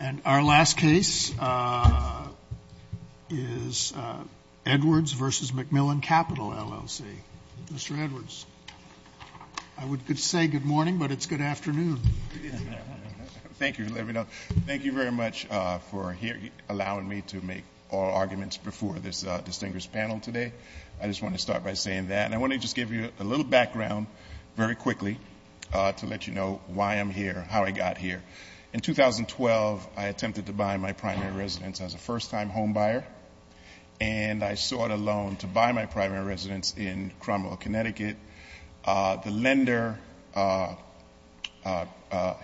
And our last case is Edwards v. McMillen Capital, LLC. Mr. Edwards. I would say good morning, but it's good afternoon. Thank you. Thank you very much for allowing me to make all arguments before this distinguished panel today. I just want to start by saying that. And I want to just give you a little background very quickly to let you know why I'm here, how I got here. In 2012, I attempted to buy my primary residence as a first-time homebuyer. And I sought a loan to buy my primary residence in Cromwell, Connecticut. The lender,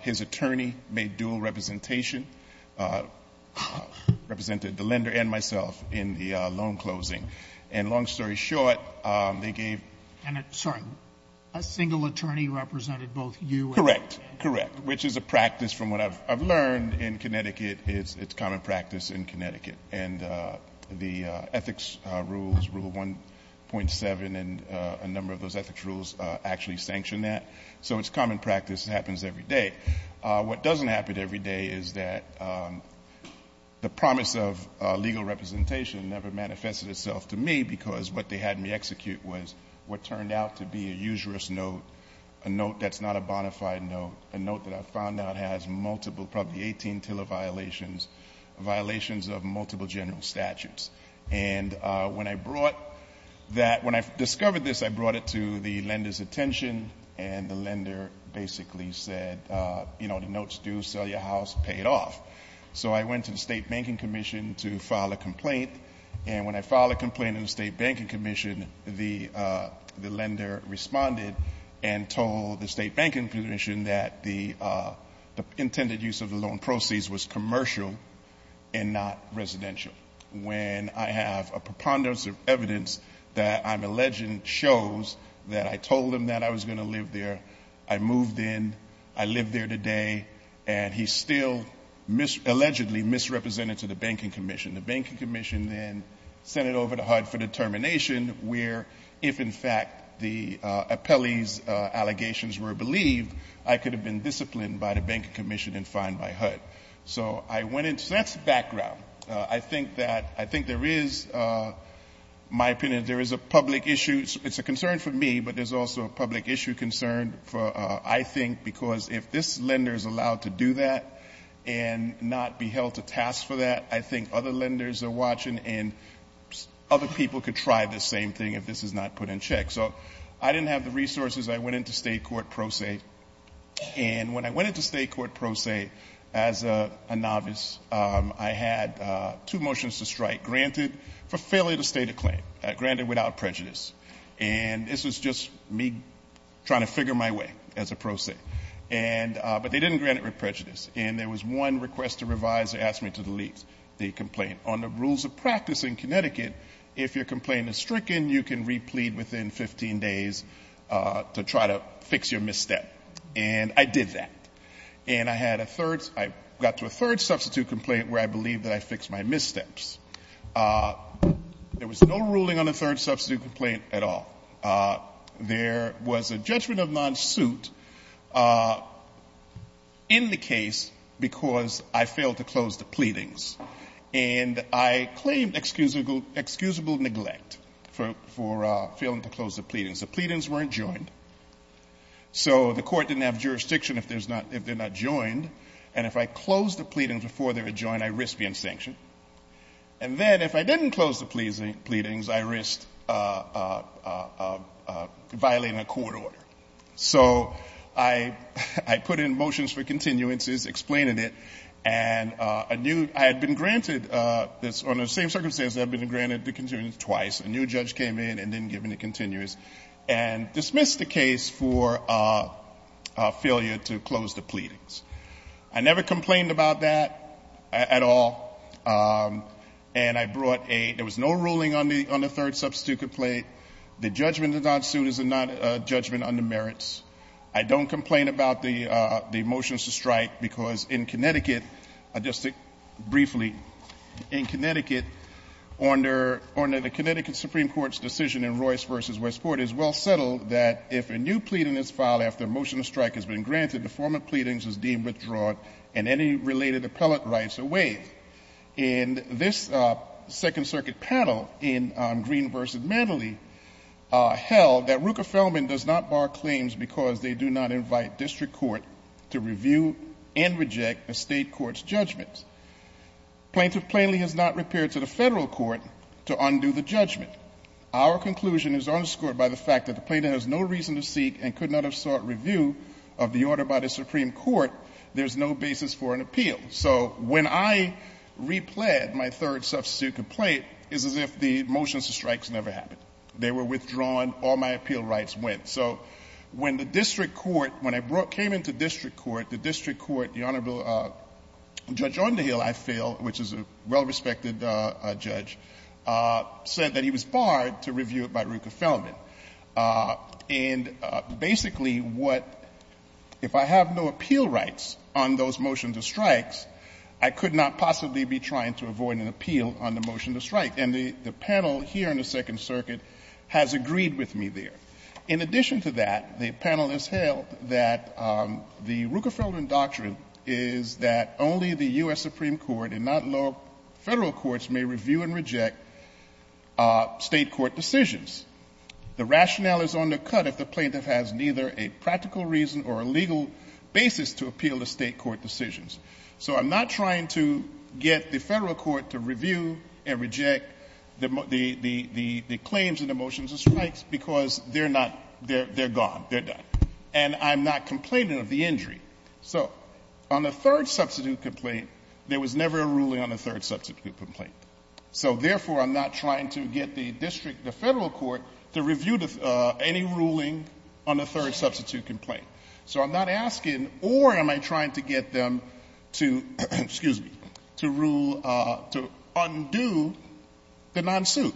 his attorney, made dual representation, represented the lender and myself in the loan closing. And long story short, they gave And I'm sorry, a single attorney represented both you and him? Correct. Correct, which is a practice from what I've learned in Connecticut. It's common practice in Connecticut. And the ethics rules, rule 1.7 and a number of those ethics rules actually sanction that. So it's common practice. It happens every day. What doesn't happen every day is that the promise of legal representation never manifested itself to me, because what they had me execute was what turned out to be a usurous note, a note that's not a bonafide note, a note that I found out has multiple, probably 18 TILA violations, violations of multiple general statutes. And when I brought that, when I discovered this, I brought it to the lender's attention, and the lender basically said, you know, the notes do sell your house, pay it off. So I went to the State Banking Commission to file a complaint. And when I filed a complaint in the State Banking Commission, the lender responded and told the State Banking Commission that the intended use of the loan proceeds was commercial and not residential. When I have a preponderance of evidence that I'm alleging shows that I told him that I was going to live there, I moved in, I live there today, and he's still allegedly misrepresented to the Banking Commission. The Banking Commission then sent it over to HUD for determination where, if, in fact, the appellee's allegations were believed, I could have been disciplined by the Banking Commission and fined by HUD. So I went into that background. I think that, I think there is, my opinion, there is a public issue. It's a concern for me, but there's also a public issue concern for, I think, because if this lender is allowed to do that and not be held to task for that, I think other lenders are watching and other people could try the same thing if this is not put in check. So I didn't have the resources. I went into state court pro se, and when I went into state court pro se as a novice, I had two motions to strike, granted for failure to state a claim, granted without prejudice. And this was just me trying to figure my way as a pro se, but they didn't grant it with prejudice. And there was one request to revise, they asked me to delete the complaint. On the rules of practice in Connecticut, if your complaint is stricken, you can replete within 15 days to try to fix your misstep. And I did that. And I had a third, I got to a third substitute complaint where I believe that I fixed my missteps. There was no ruling on the third substitute complaint at all. There was a judgment of non-suit in the case because I failed to close the pleadings. And I claimed excusable neglect for failing to close the pleadings. The pleadings weren't joined. So the court didn't have jurisdiction if they're not joined. And if I closed the pleadings before they were joined, I risked being sanctioned. And then if I didn't close the pleadings, I risked violating a court order. So I put in motions for continuances, explained it. And I had been granted, on the same circumstances, I've been granted the continuance twice. A new judge came in and didn't give any continuance. And dismissed the case for failure to close the pleadings. I never complained about that at all. And I brought a, there was no ruling on the third substitute complaint. The judgment of non-suit is a judgment on the merits. I don't complain about the motions to strike because in Connecticut, just briefly, in Connecticut, under the Connecticut Supreme Court's decision in Royce v. Westport, it's well settled that if a new pleading is filed after a motion to strike has been granted, the form of pleadings is deemed withdrawn and any related appellate rights are waived. And this Second Circuit panel in Green v. Manley held that Ruka Feldman does not bar claims because they do not invite district court to review and reject the state court's judgments. Plaintiff plainly has not repaired to the federal court to undo the judgment. Our conclusion is underscored by the fact that the plaintiff has no reason to seek and without a Supreme Court, there's no basis for an appeal. So when I replayed my third substitute complaint, it's as if the motions to strike never happened. They were withdrawn, all my appeal rights went. So when the district court, when I came into district court, the district court, the Honorable Judge Onderhill, I feel, which is a well-respected judge, said that he was barred to review it by Ruka Feldman. And basically what, if I have no appeal rights on those motions to strikes, I could not possibly be trying to avoid an appeal on the motion to strike. And the panel here in the Second Circuit has agreed with me there. In addition to that, the panel has held that the Ruka Feldman doctrine is that only the US Supreme Court and not lower federal courts may review and reject state court decisions. The rationale is undercut if the plaintiff has neither a practical reason or a legal basis to appeal the state court decisions. So I'm not trying to get the federal court to review and reject the claims in the motions to strikes because they're not, they're gone, they're done. And I'm not complaining of the injury. So on the third substitute complaint, there was never a ruling on the third substitute complaint. So therefore, I'm not trying to get the district, the federal court to review any ruling on the third substitute complaint. So I'm not asking, or am I trying to get them to, excuse me, to undo the non-suit.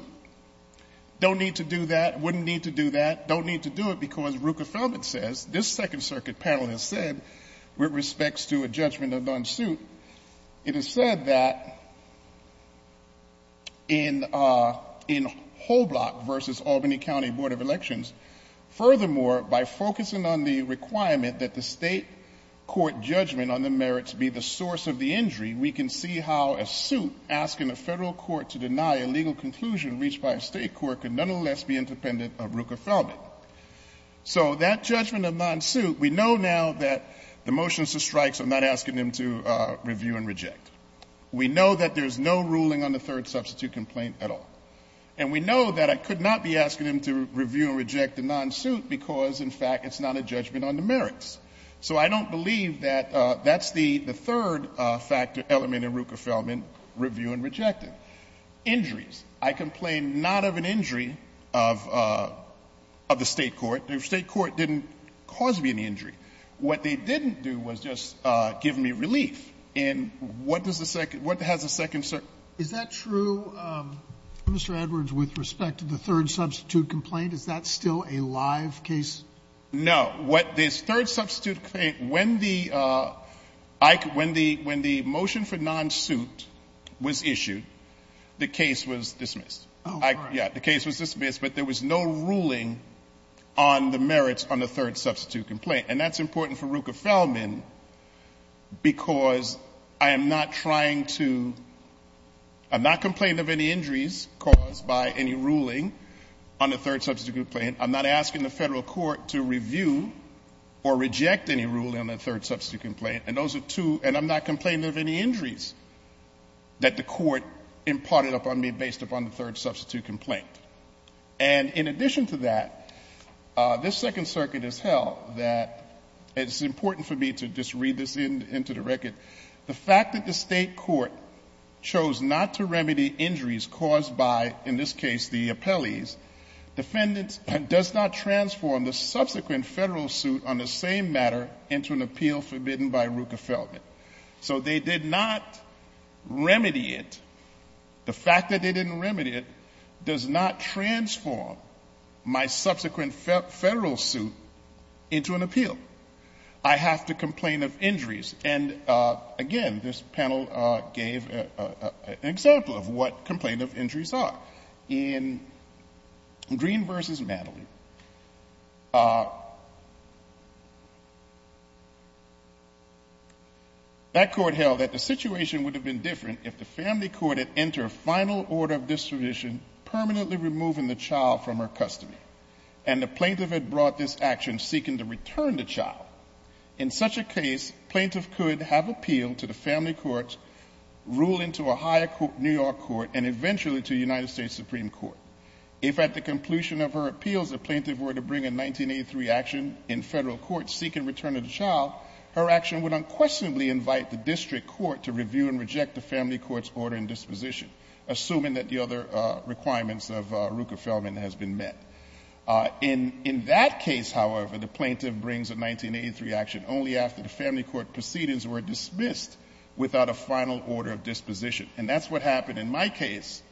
Don't need to do that, wouldn't need to do that, don't need to do it because Ruka Feldman says, this Second Circuit panel has said, with respects to a judgment of non-suit. It is said that in Hoblock versus Albany County Board of Elections. Furthermore, by focusing on the requirement that the state court judgment on the merits be the source of the injury, we can see how a suit asking a federal court to deny a legal conclusion reached by a state court can nonetheless be independent of Ruka Feldman. So that judgment of non-suit, we know now that the motions to strikes are not asking them to review and reject. We know that there's no ruling on the third substitute complaint at all. And we know that I could not be asking them to review and reject the non-suit because, in fact, it's not a judgment on the merits. So I don't believe that that's the third factor element in Ruka Feldman, review and reject it. Injuries. I complain not of an injury of the state court. The state court didn't cause me any injury. What they didn't do was just give me relief. And what does the second, what has the Second Circuit? Is that true, Mr. Edwards, with respect to the third substitute complaint? Is that still a live case? No. What this third substitute complaint, when the motion for non-suit was issued, the case was dismissed. Yeah, the case was dismissed, but there was no ruling on the merits on the third substitute complaint. And that's important for Ruka Feldman because I am not trying to, I'm not complaining of any injuries caused by any ruling on the third substitute complaint. I'm not asking the federal court to review or reject any ruling on the third substitute complaint. And those are two, and I'm not complaining of any injuries that the court imparted upon me based upon the third substitute complaint. And in addition to that, this Second Circuit has held that, it's important for me to just read this into the record. The fact that the state court chose not to remedy injuries caused by, in this case, the appellees, defendants does not transform the subsequent federal suit on the same matter into an appeal forbidden by Ruka Feldman. So they did not remedy it. The fact that they didn't remedy it does not transform my subsequent federal suit into an appeal. I have to complain of injuries. And again, this panel gave an example of what complaint of injuries are. In Green versus Madeline, that court held that the situation would have been different if the family court had entered a final order of distribution, permanently removing the child from her custody, and the plaintiff had brought this action seeking to return the child. In such a case, plaintiff could have appealed to the family court, ruling to a higher New York court, and eventually to United States Supreme Court. If at the completion of her appeals, the plaintiff were to bring a 1983 action in federal court seeking return of the child, her action would unquestionably invite the district court to review and reject the family court's order and disposition, assuming that the other requirements of Ruka Feldman has been met. In that case, however, the plaintiff brings a 1983 action only after the family court proceedings were dismissed without a final order of disposition. And that's what happened in my case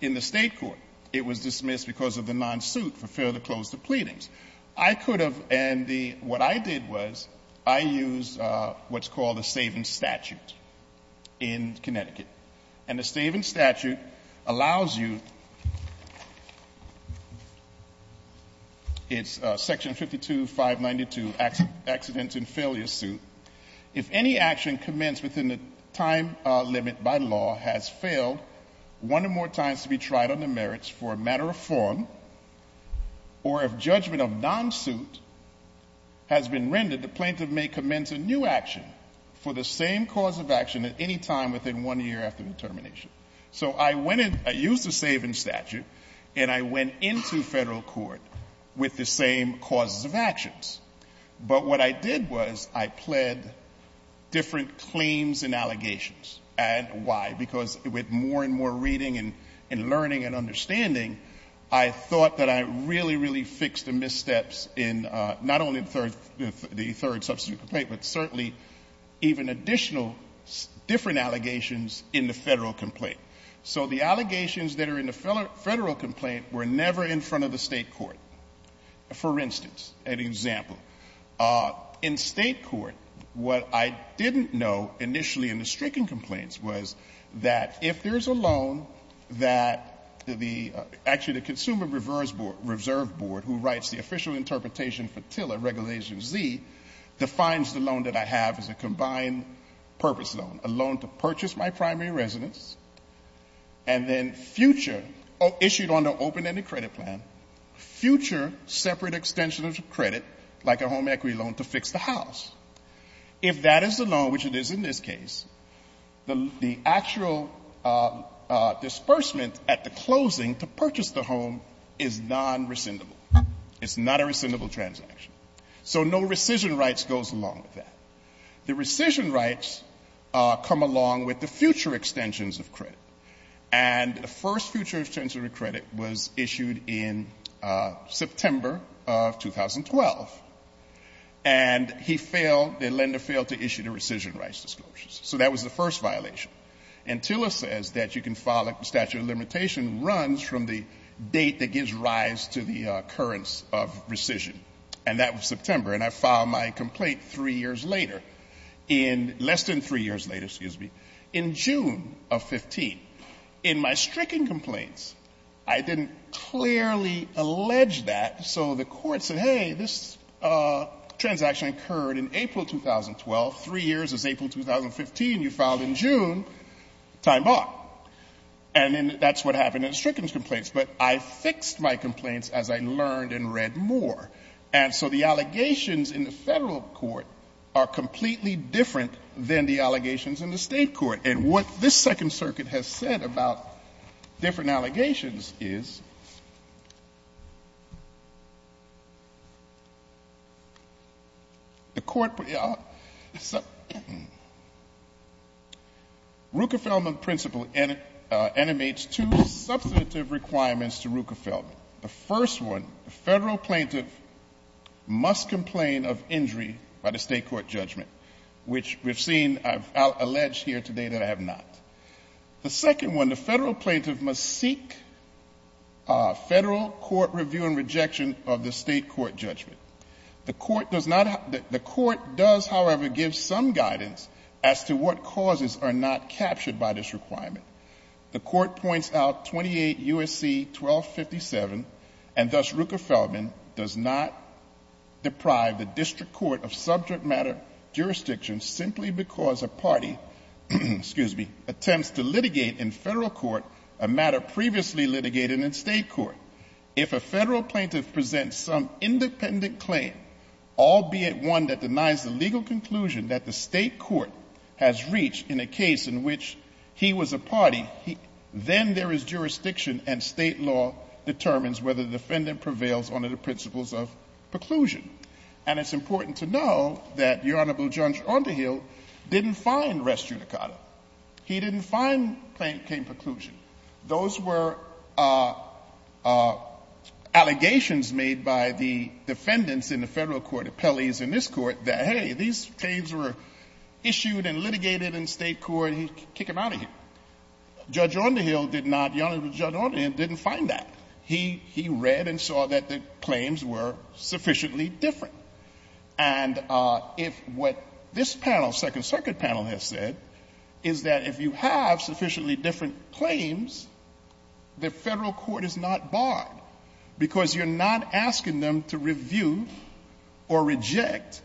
in the state court. It was dismissed because of the non-suit for further close to pleadings. I could have, and what I did was, I used what's called a saving statute in Connecticut. And the saving statute allows you, it's section 52592, accidents and failure suit. If any action commenced within the time limit by law has failed, one or more times to be tried on the merits for a matter of form, or if judgment of non-suit has been rendered, the plaintiff may commence a new action for the same cause of action at any time within one year after the termination. So I went in, I used the saving statute, and I went into federal court with the same causes of actions. But what I did was, I pled different claims and allegations. And why? Because with more and more reading and learning and understanding, I thought that I really, really fixed the missteps in not only the third substitute complaint, but certainly even additional different allegations in the federal complaint. So the allegations that are in the federal complaint were never in front of the state court. For instance, an example, in state court, what I didn't know initially in the stricken complaints was that if there's a loan, that actually the Consumer Reserve Board, who writes the official interpretation for the loan that I have is a combined purpose loan, a loan to purchase my primary residence, and then future, issued on the open-ended credit plan, future separate extension of credit, like a home equity loan to fix the house. If that is the loan, which it is in this case, the actual disbursement at the closing to purchase the home is non-rescindable. It's not a rescindable transaction. So no rescission rights goes along with that. The rescission rights come along with the future extensions of credit. And the first future extension of credit was issued in September of 2012. And the lender failed to issue the rescission rights disclosures. So that was the first violation. And Tiller says that you can file a statute of limitation runs from the date that gives rise to the occurrence of rescission. And that was September. And I filed my complaint three years later, in less than three years later, excuse me, in June of 15. In my stricken complaints, I didn't clearly allege that, so the court said, hey, this transaction occurred in April 2012, three years is April 2015, you filed in June, time bought. And then that's what happened in the stricken complaints. But I fixed my complaints as I learned and read more. And so the allegations in the federal court are completely different than the allegations in the state court. And what this second circuit has said about different allegations is, The court, Ruckefeldman principle animates two substantive requirements to Ruckefeldman. The first one, the federal plaintiff must complain of injury by the state court judgment. Which we've seen, I've alleged here today that I have not. The second one, the federal plaintiff must seek federal court review and rejection of the state court judgment. The court does, however, give some guidance as to what causes are not captured by this requirement. The court points out 28 USC 1257, and thus Ruckefeldman does not Attempts to litigate in federal court a matter previously litigated in state court. If a federal plaintiff presents some independent claim, albeit one that denies the legal conclusion that the state court has reached in a case in which he was a party. Then there is jurisdiction and state law determines whether the defendant prevails under the principles of preclusion. And it's important to know that your Honorable Judge Underhill didn't find restriction. He didn't find plaintiff came preclusion. Those were allegations made by the defendants in the federal court, appellees in this court, that hey, these claims were issued and litigated in state court, kick them out of here. Judge Underhill did not, the Honorable Judge Underhill didn't find that. He read and saw that the claims were sufficiently different. And if what this panel, Second Circuit panel has said, is that if you have sufficiently different claims, the federal court is not barred. Because you're not asking them to review or reject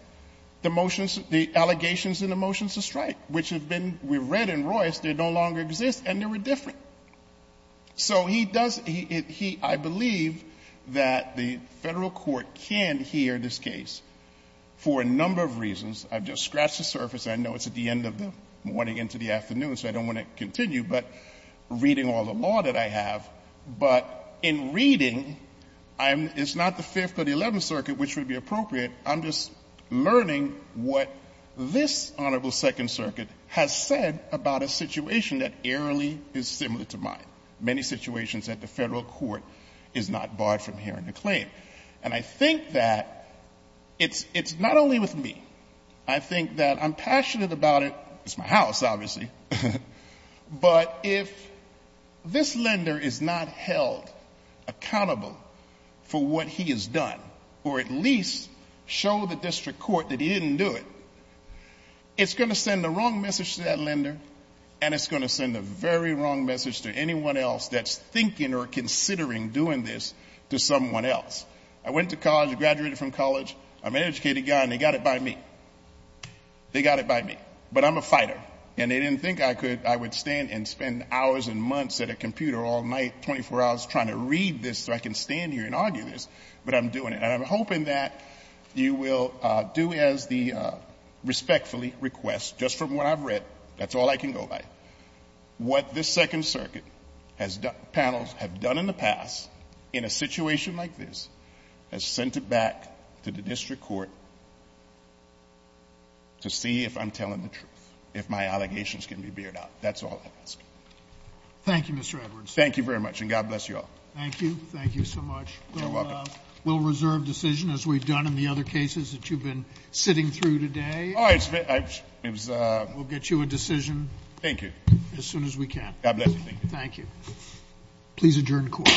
the motions, the allegations in the motions of strike. Which have been, we've read in Royce, they no longer exist and they were different. So he does, I believe that the federal court can hear this case for a number of reasons. I've just scratched the surface, I know it's at the end of the morning into the afternoon, so I don't want to continue. But reading all the law that I have, but in reading, it's not the Fifth or the Eleventh Circuit which would be appropriate. I'm just learning what this Honorable Second Circuit has said about a situation that eerily is similar to mine. Many situations that the federal court is not barred from hearing a claim. And I think that it's not only with me. I think that I'm passionate about it, it's my house obviously. But if this lender is not held accountable for what he has done, or at least show the district court that he didn't do it, it's going to send the wrong message to that lender, and it's going to send the very wrong message to anyone else that's thinking or considering doing this to someone else. I went to college, I graduated from college, I'm an educated guy and they got it by me. They got it by me. But I'm a fighter, and they didn't think I would stand and spend hours and hours, but I'm doing it, and I'm hoping that you will do as the respectfully request, just from what I've read, that's all I can go by. What this Second Circuit has done, panels have done in the past, in a situation like this, has sent it back to the district court to see if I'm telling the truth, if my allegations can be veered out. That's all I ask. Thank you, Mr. Edwards. Thank you very much, and God bless you all. Thank you. Thank you so much. You're welcome. We'll reserve decision as we've done in the other cases that you've been sitting through today. All right, it's been, it was- We'll get you a decision. Thank you. As soon as we can. God bless you, thank you. Thank you. Please adjourn the court. Thank you.